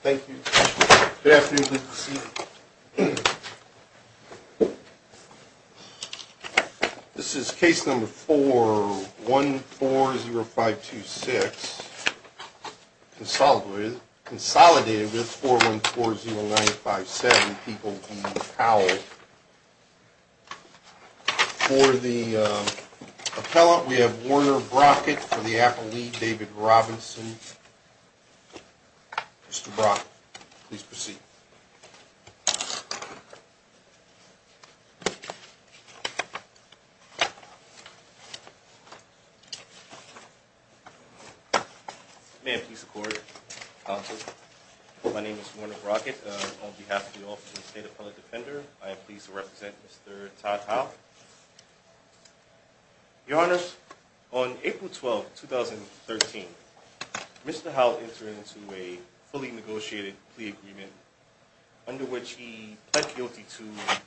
Thank you. Good afternoon. This is case number 4140526. This is case number 4140526. For the appellate, we have Warner Brockett, for the applicable, we have David Robinson. Mr. Brock, please proceed. May I please support your counsel? Our name is Warner Brockett on behalf of the Washington State Appellate Defender. I am pleased to represent Mr. Todd Howell. Your Honor, on April 12, 2013, Mr. Howell entered into a fully negotiated plea agreement under which he pled guilty to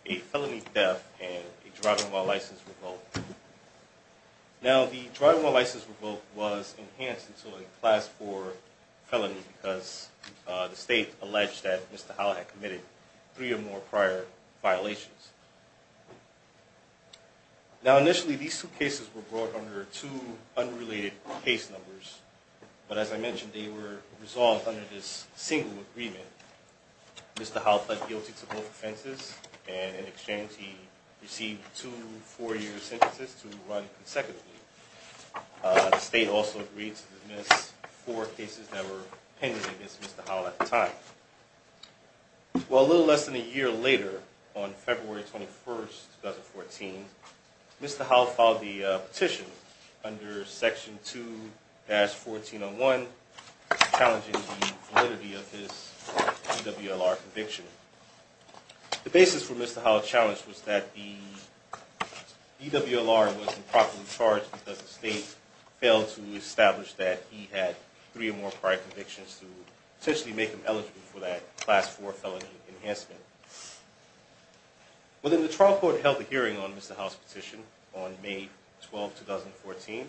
a felony death and a driving while license revolt. Now the driving while license revolt was enhanced into a class 4 felony because the state alleged that Mr. Howell had committed three or more prior violations. Now initially these two cases were brought under two unrelated case numbers, but as I mentioned they were resolved under this single agreement. Mr. Howell pled guilty to both offenses and in exchange he received two four-year sentences to run consecutively. The state also agreed to dismiss four cases that were pending against Mr. Howell at the time. Well, a little less than a year later, on February 21, 2014, Mr. Howell filed the petition under section 2-1401 challenging the validity of his EWLR conviction. The basis for Mr. Howell's challenge was that the EWLR was improperly charged because the state failed to establish that he had three or more prior convictions to potentially make him eligible for that class 4 felony enhancement. Well then the trial court held a hearing on Mr. Howell's petition on May 12, 2014.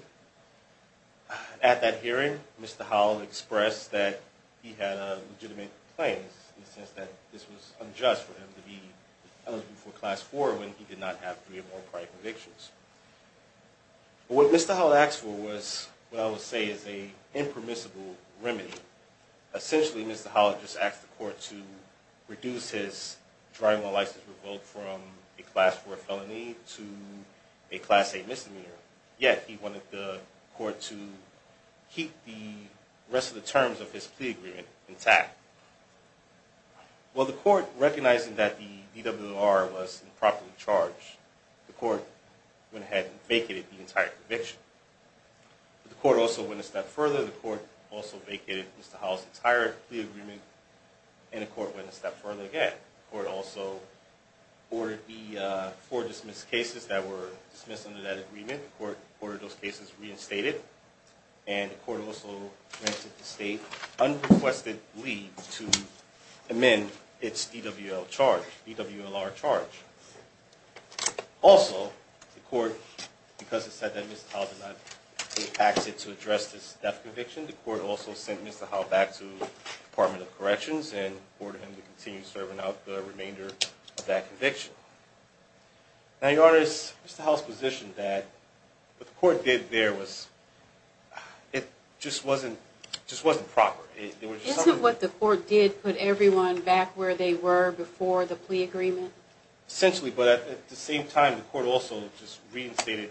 At that hearing, Mr. Howell expressed that he had a legitimate complaint in the sense that this was unjust for him to be eligible for class 4 when he did not have three or more prior convictions. What Mr. Howell asked for was what I would say is an impermissible remedy. Essentially, Mr. Howell just asked the court to reduce his driving on license revolt from a class 4 felony to a class A misdemeanor, yet he wanted the court to keep the rest of the terms of his plea agreement intact. Well, the court, recognizing that the EWLR was improperly charged, the court went ahead and vacated the entire conviction. The court also went a step further. The court also vacated Mr. Howell's entire plea agreement, and the court went a step further again. The court also ordered the four dismissed cases that were dismissed under that agreement, the court ordered those cases reinstated, and the court also granted the state unrequested leave to amend its EWLR charge. Also, the court, because it said that Mr. Howell did not take action to address this death conviction, the court also sent Mr. Howell back to the Department of Corrections and ordered him to continue serving out the remainder of that conviction. Now, Your Honor, is Mr. Howell's position that what the court did there was, it just wasn't proper? Isn't what the court did put everyone back where they were before the plea agreement? Essentially, but at the same time, the court also just reinstated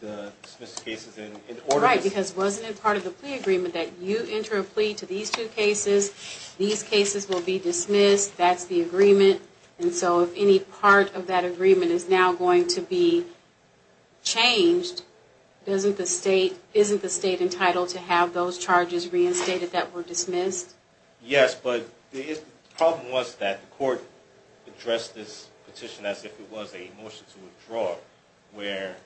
the dismissed cases in order to... Right, because wasn't it part of the plea agreement that you enter a plea to these two cases will be dismissed, that's the agreement, and so if any part of that agreement is now going to be changed, isn't the state entitled to have those charges reinstated that were dismissed? Yes, but the problem was that the court addressed this petition as if it was a motion to withdraw, where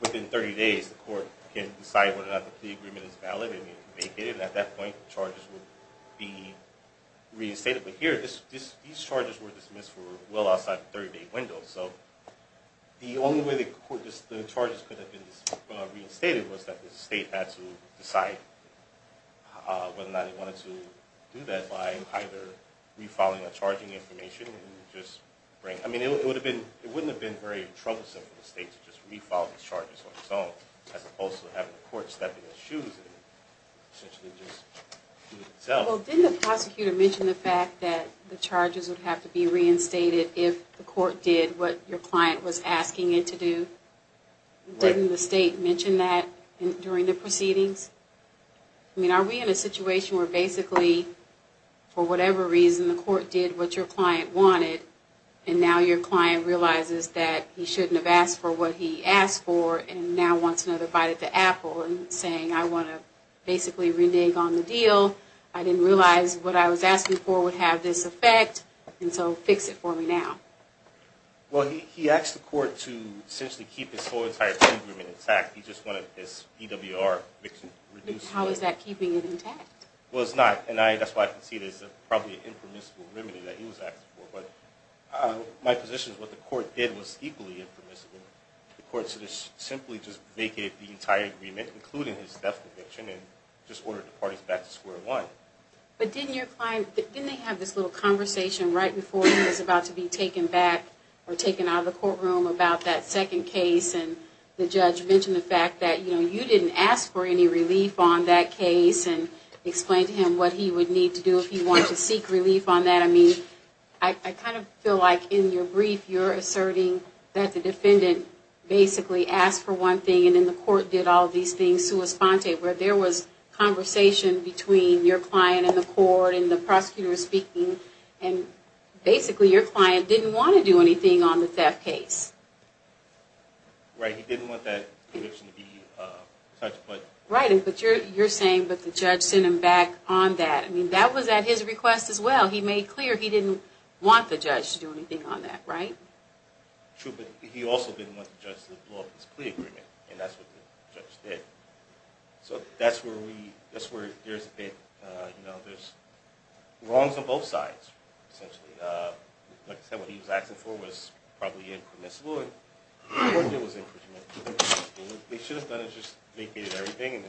within 30 days the court can decide whether or not the plea agreement is valid and at that point the charges would be reinstated, but here these charges were dismissed well outside the 30 day window, so the only way the charges could have been reinstated was that the state had to decide whether or not it wanted to do that by either refiling the charging information, I mean it wouldn't have been very troublesome for the state to just do it itself. Well didn't the prosecutor mention the fact that the charges would have to be reinstated if the court did what your client was asking it to do? Right. Didn't the state mention that during the proceedings? I mean are we in a situation where basically for whatever reason the court did what your client wanted and now your client realizes that he shouldn't have asked for what he asked for and now wants another bite at the apple and saying I want to basically renege on the deal, I didn't realize what I was asking for would have this effect, and so fix it for me now. Well he asked the court to essentially keep his whole entire agreement intact, he just wanted his PWR reduced. How is that keeping it intact? Well it's not, and that's why I can see there's probably an impermissible remedy that he was asking for, but my position is what the court did was equally impermissible. The court simply vacated the entire agreement including his death conviction and just ordered the parties back to square one. But didn't your client, didn't they have this little conversation right before he was about to be taken back or taken out of the courtroom about that second case and the judge mentioned the fact that you didn't ask for any relief on that case and explained to him what he would need to do if he wanted to seek relief on that, I mean I kind of feel like in your case the defendant basically asked for one thing and then the court did all these things sua sponte where there was conversation between your client and the court and the prosecutor was speaking and basically your client didn't want to do anything on the theft case. Right, he didn't want that conviction to be touched. Right, but you're saying that the judge sent him back on that, I mean that was at his request as well, he made clear he didn't want the judge to do anything on that, right? True, but he also didn't want the judge to blow up his plea agreement and that's what the judge did. So that's where we, that's where there's a bit, you know, there's wrongs on both sides essentially. Like I said, what he was asking for was probably in permissible and of course it was in permissible. They should have just vacated everything and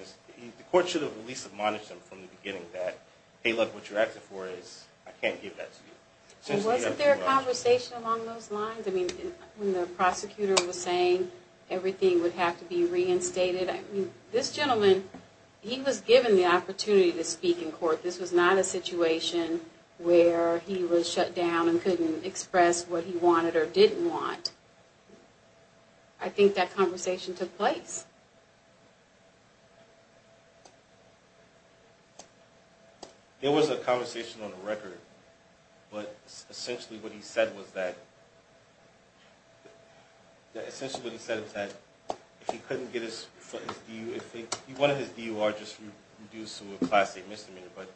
the court should have at least admonished him from the beginning that hey look what you're asking for is, I can't give that to you. Wasn't there a conversation along those lines? I mean when the prosecutor was saying everything would have to be reinstated, I mean this gentleman, he was given the opportunity to speak in court, this was not a situation where he was shut down and couldn't express what he wanted or didn't want. I think that conversation took place. There was a conversation on the record, but essentially what he said was that, essentially what he said was that if he couldn't get his DU, if he wanted his DUR just reduced to a Class A misdemeanor, but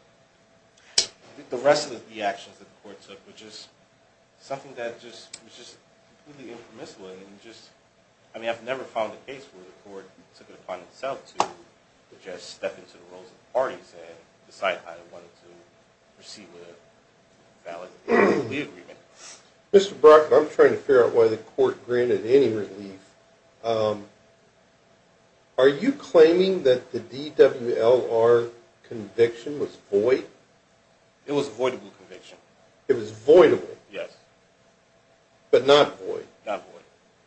the rest of the actions that the court took were just something that was just completely impermissible. I mean I've never found a case where the court took it upon itself to just step into the roles of parties and decide how they wanted to proceed with a valid agreement. Mr. Brockett, I'm trying to figure out why the court granted any relief. Are you claiming that the DWLR conviction was void? It was a voidable conviction. It was voidable? Yes. But not void? Not void.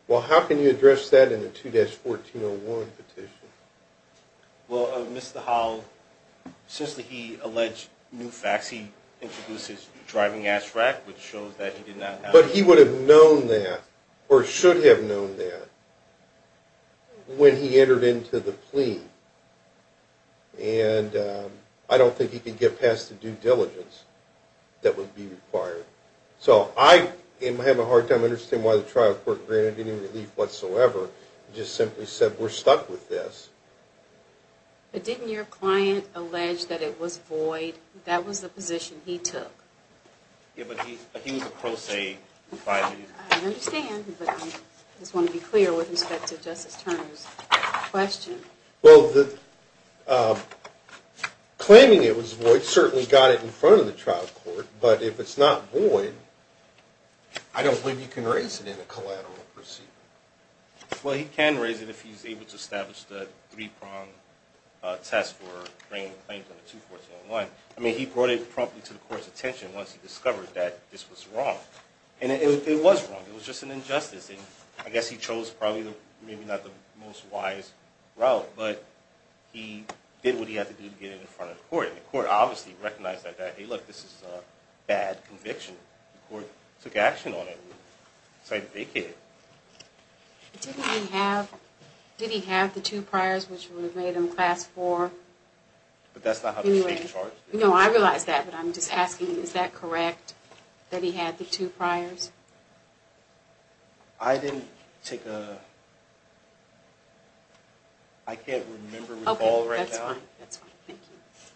Well, how can you address that in a 2-1401 petition? Well, Mr. Howell, since he alleged new facts, he introduced his driving ass rack, which shows that he did not have... But he would have known that, or should have known that, when he entered into the plea. And I don't think he could get past the due diligence that would be required. So I am having a hard time understanding why the trial court granted any relief whatsoever. It just simply said, we're stuck with this. But didn't your client allege that it was void? That was the position he took. Yeah, but he was a pro se. I understand, but I just want to be clear with respect to Justice Turner's question. Well, claiming it was void certainly got it in front of the trial court. But if it's not void, I don't believe you can raise it in a collateral proceeding. Well, he can raise it if he's able to establish the three-prong test for bringing the claims on the 2-1401. I mean, he brought it promptly to the court's attention once he discovered that this was wrong. And it was wrong. It was just an injustice. And I guess he chose probably maybe not the most wise route. But he did what he had to do to get it in front of the court. And the court obviously recognized that, hey, look, this is a bad conviction. The court took action on it and decided to vacate it. Did he have the two priors, which would have made him Class IV? But that's not how the state charged him. No, I realize that. But I'm just asking, is that correct, that he had the two priors? I didn't take a – I can't remember, recall right now. Okay, that's fine. That's fine. Thank you.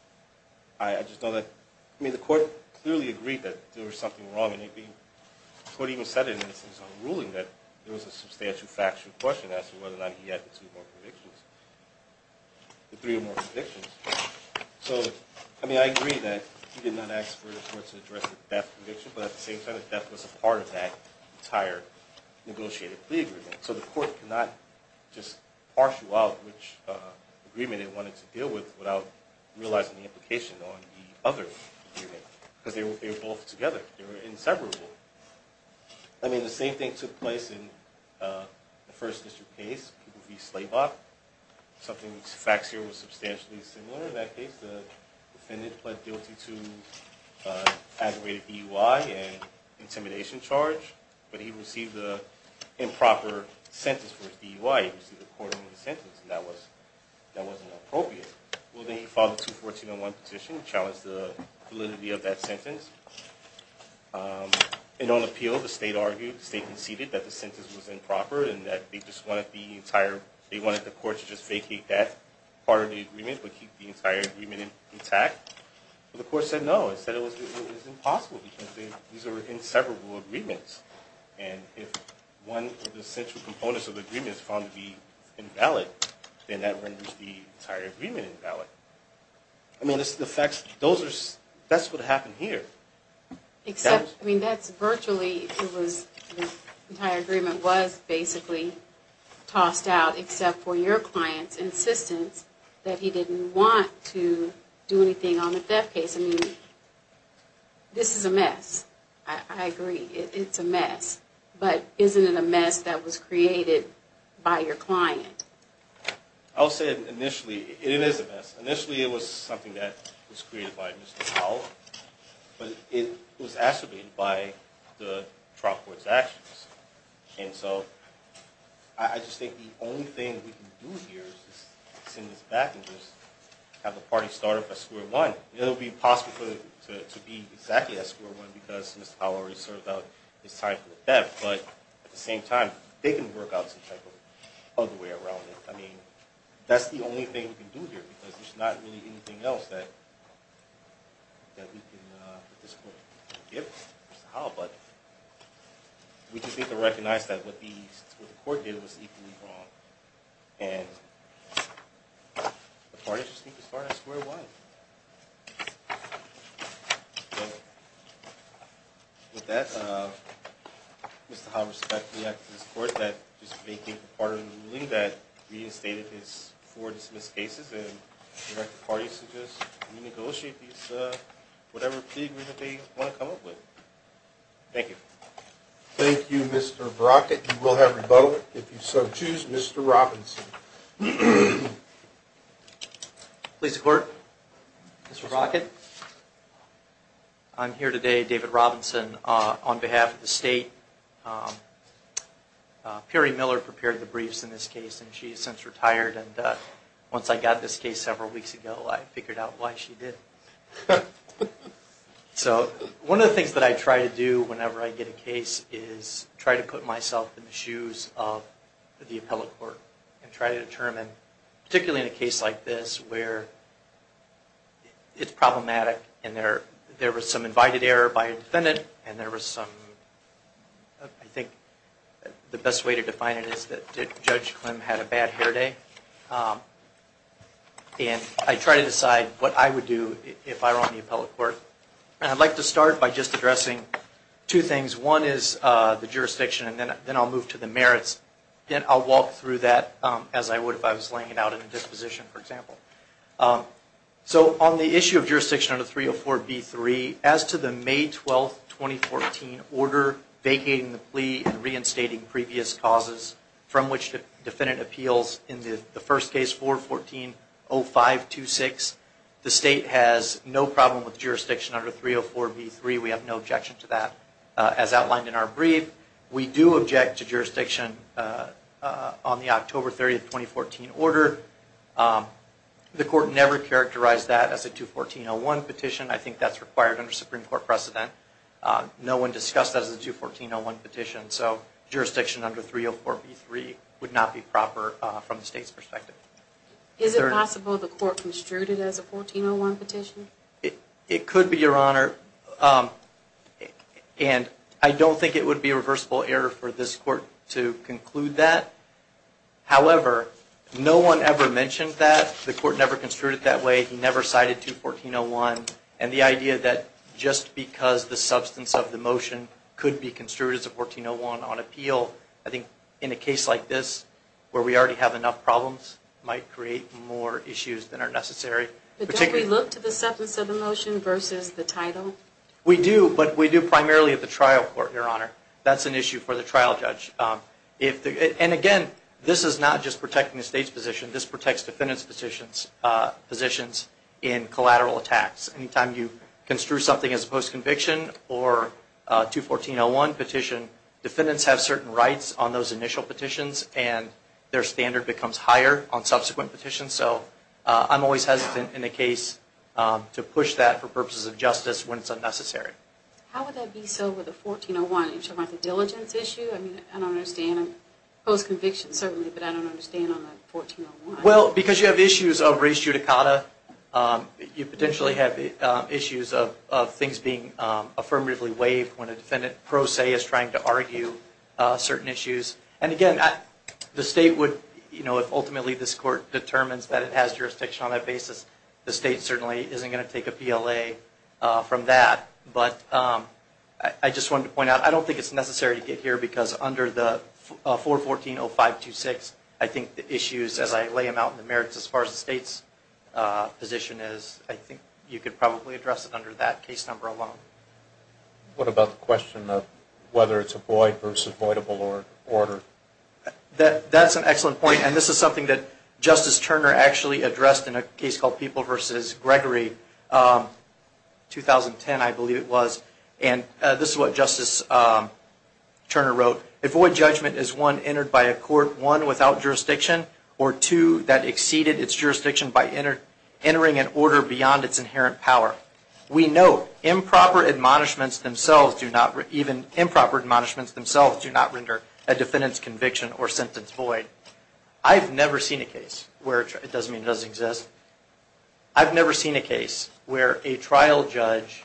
I just know that – I mean, the court clearly agreed that there was something wrong. And the court even said in its ruling that there was a substantial factual question as to whether or not he had the two more convictions, the three or more convictions. So, I mean, I agree that he did not ask for the court to address the death conviction. But at the same time, the death was a part of that entire negotiated plea agreement. So the court could not just partial out which agreement it wanted to deal with without realizing the implication on the other agreement. Because they were both together. They were inseparable. I mean, the same thing took place in the First District case. People v. Slaybaugh. Something – facts here was substantially similar in that case. The defendant pled guilty to aggravated DUI and intimidation charge, but he received the improper sentence for his DUI. He received a court-ordered sentence, and that wasn't appropriate. Well, then he filed a 214-1 petition to challenge the validity of that sentence. And on appeal, the state argued, the state conceded that the sentence was improper and that they just wanted the entire – they wanted the court to just vacate that part of the agreement but keep the entire agreement intact. Well, the court said no. It said it was impossible because these are inseparable agreements. And if one of the central components of the agreement is found to be invalid, then that renders the entire agreement invalid. I mean, that's what happened here. Except, I mean, that's virtually – the entire agreement was basically tossed out, except for your client's insistence that he didn't want to do anything on the theft case. I mean, this is a mess. I agree. It's a mess. But isn't it a mess that was created by your client? I'll say initially it is a mess. Initially it was something that was created by Mr. Powell, but it was acerbated by the trial court's actions. And so I just think the only thing we can do here is just send this back and just have the party start up at square one. It will be possible to be exactly at square one because Mr. Powell already served out his time for the theft, but at the same time they can work out some type of other way around it. I mean, that's the only thing we can do here because there's not really anything else that we can at this point give Mr. Powell. But we just need to recognize that what the court did was equally wrong, and the party just needs to start at square one. With that, Mr. Howell, respectfully ask this court to just make it part of the ruling that reinstated his four dismissed cases and let the party just renegotiate whatever plea agreement they want to come up with. Thank you. Thank you, Mr. Brockett. You will have rebuttal if you so choose. Mr. Robinson. Please report, Mr. Brockett. I'm here today, David Robinson, on behalf of the state. Perry Miller prepared the briefs in this case, and she has since retired. Once I got this case several weeks ago, I figured out why she did. One of the things that I try to do whenever I get a case is try to put myself in the shoes of the appellate court and try to determine, particularly in a case like this where it's problematic and there was some invited error by a defendant, and there was some, I think the best way to define it is that Judge Klim had a bad hair day. And I try to decide what I would do if I were on the appellate court. And I'd like to start by just addressing two things. One is the jurisdiction, and then I'll move to the merits. Then I'll walk through that as I would if I was laying it out in a disposition, for example. So on the issue of jurisdiction under 304B3, as to the May 12, 2014 order vacating the plea and reinstating previous causes from which the defendant appeals in the first case, 414-0526, the state has no problem with jurisdiction under 304B3. We have no objection to that. As outlined in our brief, we do object to jurisdiction on the October 30, 2014 order. The court never characterized that as a 214-01 petition. I think that's required under Supreme Court precedent. No one discussed that as a 214-01 petition, so jurisdiction under 304B3 would not be proper from the state's perspective. Is it possible the court construed it as a 14-01 petition? It could be, Your Honor, and I don't think it would be a reversible error for this court to conclude that. However, no one ever mentioned that. The court never construed it that way. He never cited 214-01. And the idea that just because the substance of the motion could be construed as a 14-01 on appeal, I think in a case like this where we already have enough problems, might create more issues than are necessary. But don't we look to the substance of the motion versus the title? We do, but we do primarily at the trial court, Your Honor. That's an issue for the trial judge. And again, this is not just protecting the state's position. This protects defendants' positions in collateral attacks. Anytime you construe something as a post-conviction or 214-01 petition, defendants have certain rights on those initial petitions, and their standard becomes higher on subsequent petitions. So I'm always hesitant in a case to push that for purposes of justice when it's unnecessary. How would that be so with a 14-01? You're talking about the diligence issue? I don't understand post-conviction certainly, but I don't understand on the 14-01. Well, because you have issues of res judicata, you potentially have issues of things being affirmatively waived when a defendant pro se is trying to argue certain issues. And again, the state would, you know, if ultimately this court determines that it has jurisdiction on that basis, the state certainly isn't going to take a PLA from that. But I just wanted to point out, I don't think it's necessary to get here because under the 414-0526, I think the issues as I lay them out in the merits as far as the state's position is, I think you could probably address it under that case number alone. What about the question of whether it's a void versus voidable or ordered? That's an excellent point, and this is something that Justice Turner actually addressed in a case called People v. Gregory. 2010, I believe it was. And this is what Justice Turner wrote. A void judgment is, one, entered by a court, one, without jurisdiction, or two, that exceeded its jurisdiction by entering an order beyond its inherent power. We note improper admonishments themselves do not, even improper admonishments themselves do not render a defendant's conviction or sentence void. I've never seen a case where it doesn't mean it doesn't exist. I've never seen a case where a trial judge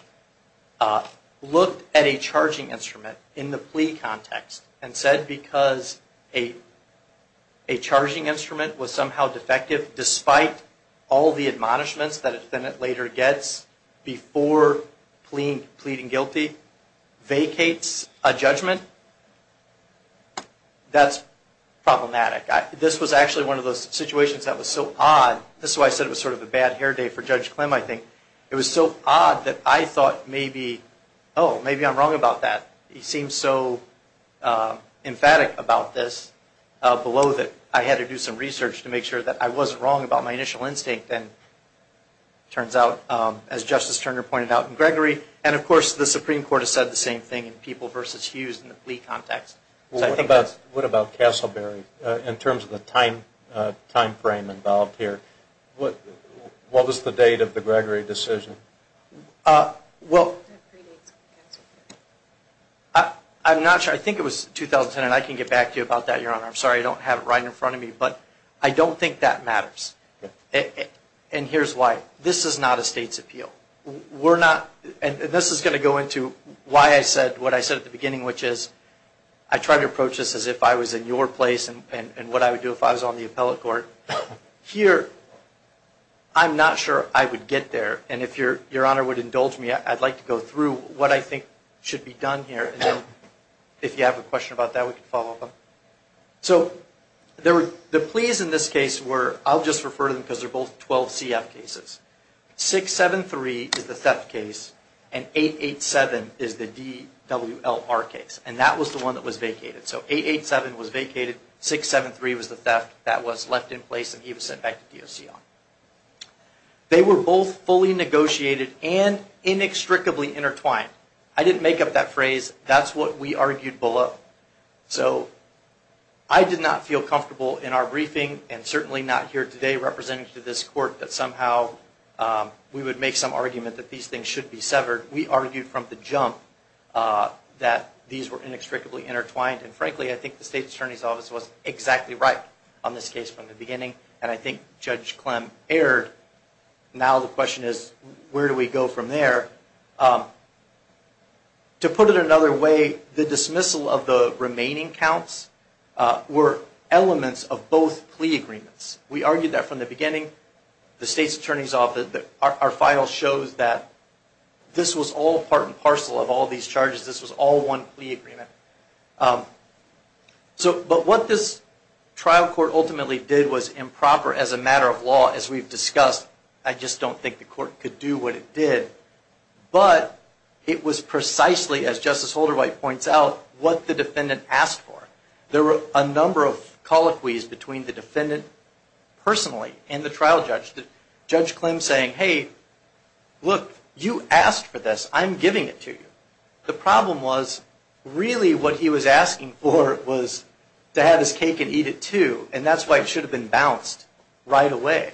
looked at a charging instrument in the plea context and said because a charging instrument was somehow defective despite all the admonishments that a defendant later gets before pleading guilty, vacates a judgment. That's problematic. This was actually one of those situations that was so odd. This is why I said it was sort of a bad hair day for Judge Klim, I think. It was so odd that I thought maybe, oh, maybe I'm wrong about that. He seemed so emphatic about this below that I had to do some research to make sure that I wasn't wrong about my initial instinct. And it turns out, as Justice Turner pointed out in Gregory, and of course the Supreme Court has said the same thing in People v. Hughes in the plea context. What about Castleberry in terms of the time frame involved here? What was the date of the Gregory decision? I'm not sure. I think it was 2010. I can get back to you about that, Your Honor. I'm sorry I don't have it right in front of me, but I don't think that matters. And here's why. This is not a state's appeal. And this is going to go into why I said what I said at the beginning, which is I tried to approach this as if I was in your place and what I would do if I was on the appellate court. Here, I'm not sure I would get there, and if Your Honor would indulge me, I'd like to go through what I think should be done here, and then if you have a question about that, we can follow up on it. So the pleas in this case were, I'll just refer to them because they're both 12 CF cases. 673 is the theft case, and 887 is the DWLR case, and that was the one that was vacated. So 887 was vacated, 673 was the theft that was left in place, and he was sent back to DOCR. They were both fully negotiated and inextricably intertwined. I didn't make up that phrase. That's what we argued below. So I did not feel comfortable in our briefing, and certainly not here today, representing to this court that somehow we would make some argument that these things should be severed. We argued from the jump that these were inextricably intertwined, and frankly, I think the State Attorney's Office was exactly right on this case from the beginning, and I think Judge Clem erred. Now the question is, where do we go from there? To put it another way, the dismissal of the remaining counts were elements of both plea agreements. We argued that from the beginning. The State Attorney's Office, our file shows that this was all part and parcel of all these charges. This was all one plea agreement. But what this trial court ultimately did was improper as a matter of law, as we've discussed. I just don't think the court could do what it did. But it was precisely, as Justice Holderwhite points out, what the defendant asked for. There were a number of colloquies between the defendant personally and the trial judge. Judge Clem saying, hey, look, you asked for this. I'm giving it to you. The problem was really what he was asking for was to have his cake and eat it too, and that's why it should have been balanced right away.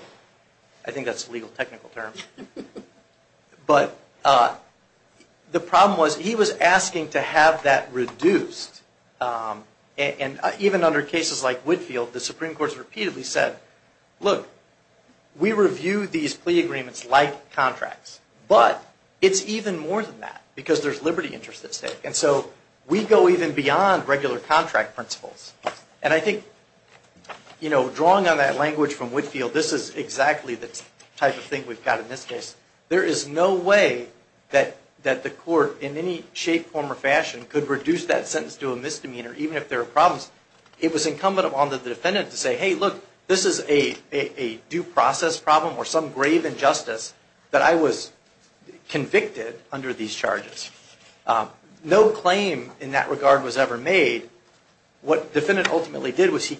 I think that's a legal technical term. But the problem was he was asking to have that reduced. And even under cases like Whitfield, the Supreme Court has repeatedly said, look, we review these plea agreements like contracts, but it's even more than that because there's liberty interests at stake. And so we go even beyond regular contract principles. And I think, you know, drawing on that language from Whitfield, this is exactly the type of thing we've got in this case. There is no way that the court in any shape, form, or fashion could reduce that sentence to a misdemeanor, even if there are problems. It was incumbent upon the defendant to say, hey, look, this is a due process problem or some grave injustice that I was convicted under these charges. No claim in that regard was ever made. What the defendant ultimately did was,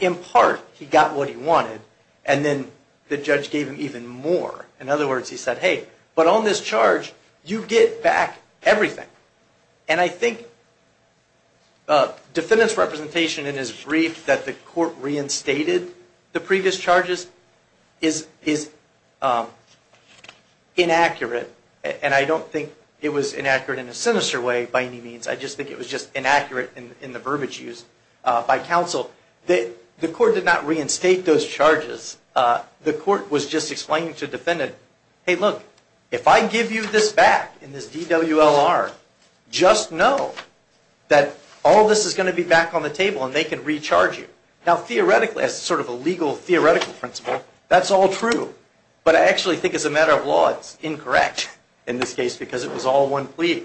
in part, he got what he wanted, and then the judge gave him even more. In other words, he said, hey, but on this charge, you get back everything. And I think the defendant's representation in his brief that the court reinstated the previous charges is inaccurate, and I don't think it was inaccurate in a sinister way by any means. I just think it was just inaccurate in the verbiage used by counsel. The court did not reinstate those charges. The court was just explaining to the defendant, hey, look, if I give you this back in this DWLR, just know that all this is going to be back on the table and they can recharge you. Now, theoretically, as sort of a legal theoretical principle, that's all true. But I actually think as a matter of law, it's incorrect in this case because it was all one plea.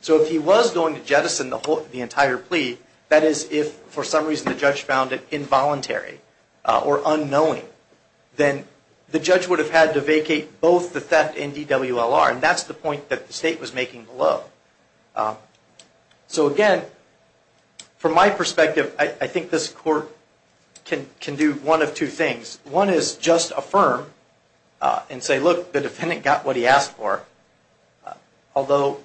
So if he was going to jettison the entire plea, that is, if for some reason the judge found it involuntary or unknowing, then the judge would have had to vacate both the theft and DWLR, and that's the point that the state was making below. So again, from my perspective, I think this court can do one of two things. One is just affirm and say, look, the defendant got what he asked for, although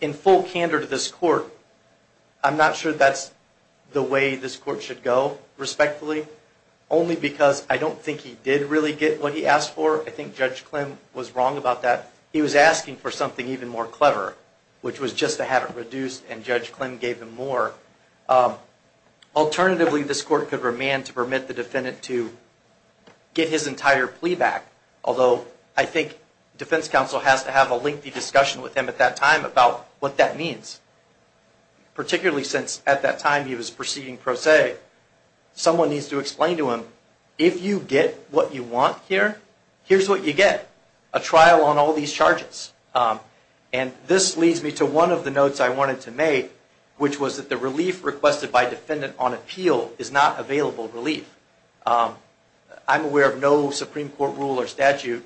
in full candor to this court, I'm not sure that's the way this court should go respectfully, only because I don't think he did really get what he asked for. I think Judge Klim was wrong about that. He was asking for something even more clever, which was just to have it reduced, and Judge Klim gave him more. Alternatively, this court could remand to permit the defendant to get his entire plea back, although I think defense counsel has to have a lengthy discussion with him at that time about what that means, particularly since at that time he was proceeding pro se. Someone needs to explain to him, if you get what you want here, here's what you get, a trial on all these charges. And this leads me to one of the notes I wanted to make, which was that the relief requested by defendant on appeal is not available relief. I'm aware of no Supreme Court rule or statute.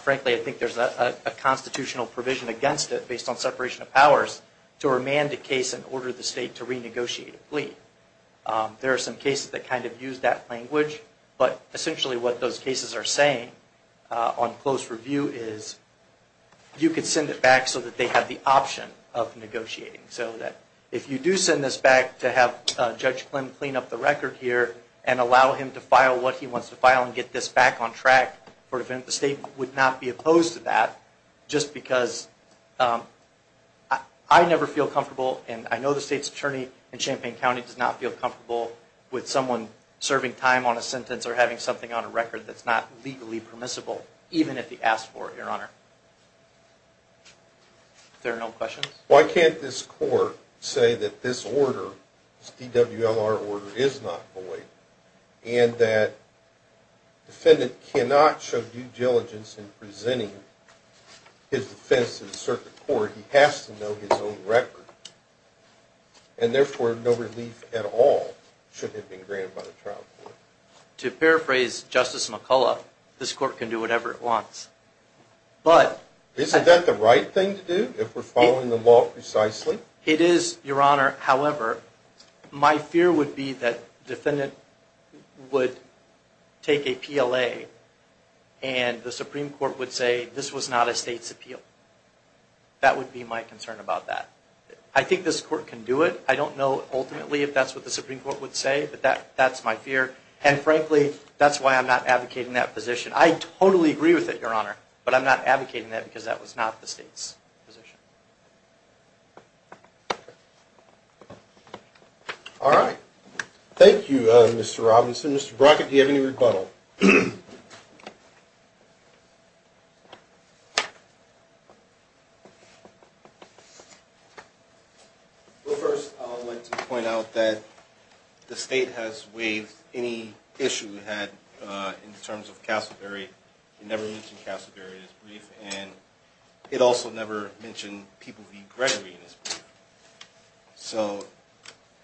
Frankly, I think there's a constitutional provision against it based on separation of powers to remand a case and order the state to renegotiate a plea. There are some cases that kind of use that language, but essentially what those cases are saying on close review is, you could send it back so that they have the option of negotiating. So that if you do send this back to have Judge Klim clean up the record here and allow him to file what he wants to file and get this back on track for the defendant, the state would not be opposed to that, just because I never feel comfortable, and I know the state's attorney in Champaign County does not feel comfortable with someone serving time on a sentence or having something on a record that's not legally permissible, even if he asks for it, Your Honor. If there are no questions. Why can't this court say that this order, this DWLR order, is not void, and that defendant cannot show due diligence in presenting his defense to the circuit court? Or he has to know his own record, and therefore no relief at all should have been granted by the trial court? To paraphrase Justice McCullough, this court can do whatever it wants. Isn't that the right thing to do if we're following the law precisely? It is, Your Honor. However, my fear would be that the defendant would take a PLA, that would be my concern about that. I think this court can do it. I don't know ultimately if that's what the Supreme Court would say, but that's my fear. And frankly, that's why I'm not advocating that position. I totally agree with it, Your Honor, but I'm not advocating that because that was not the state's position. All right. Thank you, Mr. Robinson. Mr. Brockett, do you have any rebuttal? Well, first I would like to point out that the state has waived any issue it had in terms of Castleberry. It never mentioned Castleberry in its brief, and it also never mentioned Peabody Gregory in its brief.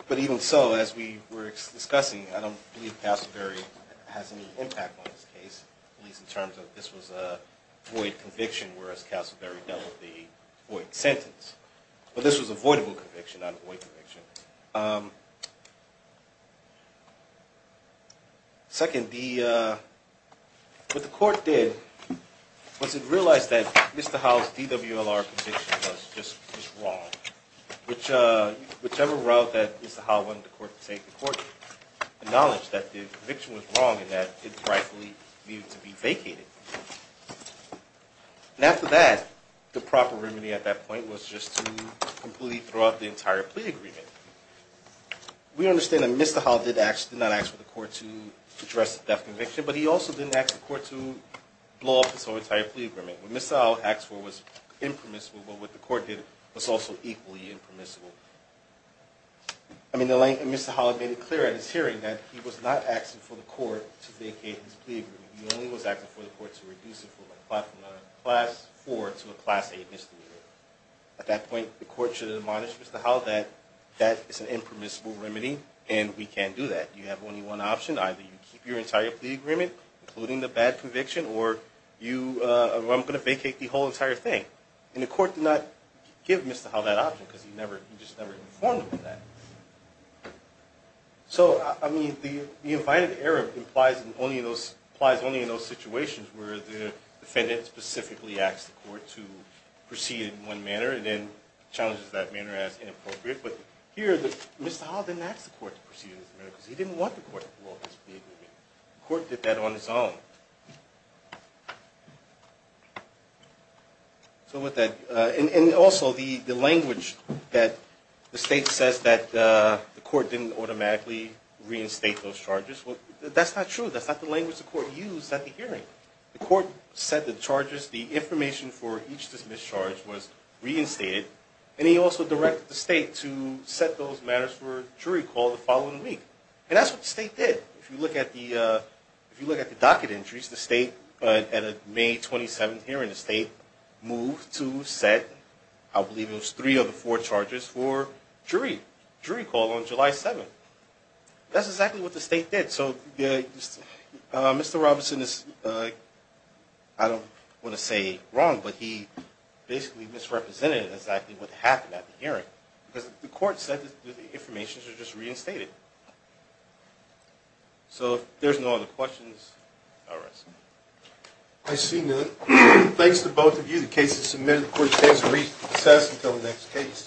But even so, as we were discussing, I don't believe Castleberry has any impact on this case, at least in terms of this was a void conviction, whereas Castleberry dealt with the void sentence. But this was a voidable conviction, not a void conviction. Second, what the court did was it realized that Mr. Howell's DWLR conviction was just wrong, which whichever route that Mr. Howell wanted the court to take, the court acknowledged that the conviction was wrong and that it rightfully needed to be vacated. And after that, the proper remedy at that point was just to completely throw out the entire plea agreement. We understand that Mr. Howell did not ask for the court to address the death conviction, but he also didn't ask the court to blow up his whole entire plea agreement. What Mr. Howell asked for was impermissible, but what the court did was also equally impermissible. I mean, Mr. Howell made it clear at his hearing that he was not asking for the court to vacate his plea agreement. He only was asking for the court to reduce it from a Class 4 to a Class 8 misdemeanor. At that point, the court should have admonished Mr. Howell that that is an impermissible remedy and we can't do that. You have only one option. Either you keep your entire plea agreement, including the bad conviction, or I'm going to vacate the whole entire thing. And the court did not give Mr. Howell that option because he just never informed him of that. So, I mean, the invited error applies only in those situations where the defendant specifically asks the court to proceed in one manner and then challenges that manner as inappropriate. But here, Mr. Howell didn't ask the court to proceed because he didn't want the court to blow up his plea agreement. The court did that on its own. So with that, and also the language that the state says that the court didn't automatically reinstate those charges, well, that's not true. That's not the language the court used at the hearing. The court said the charges, the information for each dismissed charge was reinstated, and he also directed the state to set those matters for a jury call the following week. And that's what the state did. If you look at the docket entries, the state, at a May 27th hearing, the state moved to set, I believe it was, three of the four charges for jury call on July 7th. That's exactly what the state did. So Mr. Robinson is, I don't want to say wrong, but he basically misrepresented exactly what happened at the hearing because the court said that the information was just reinstated. So if there's no other questions, I'll rest. I see none. Thanks to both of you. The case is submitted. The court stands recessed until the next case.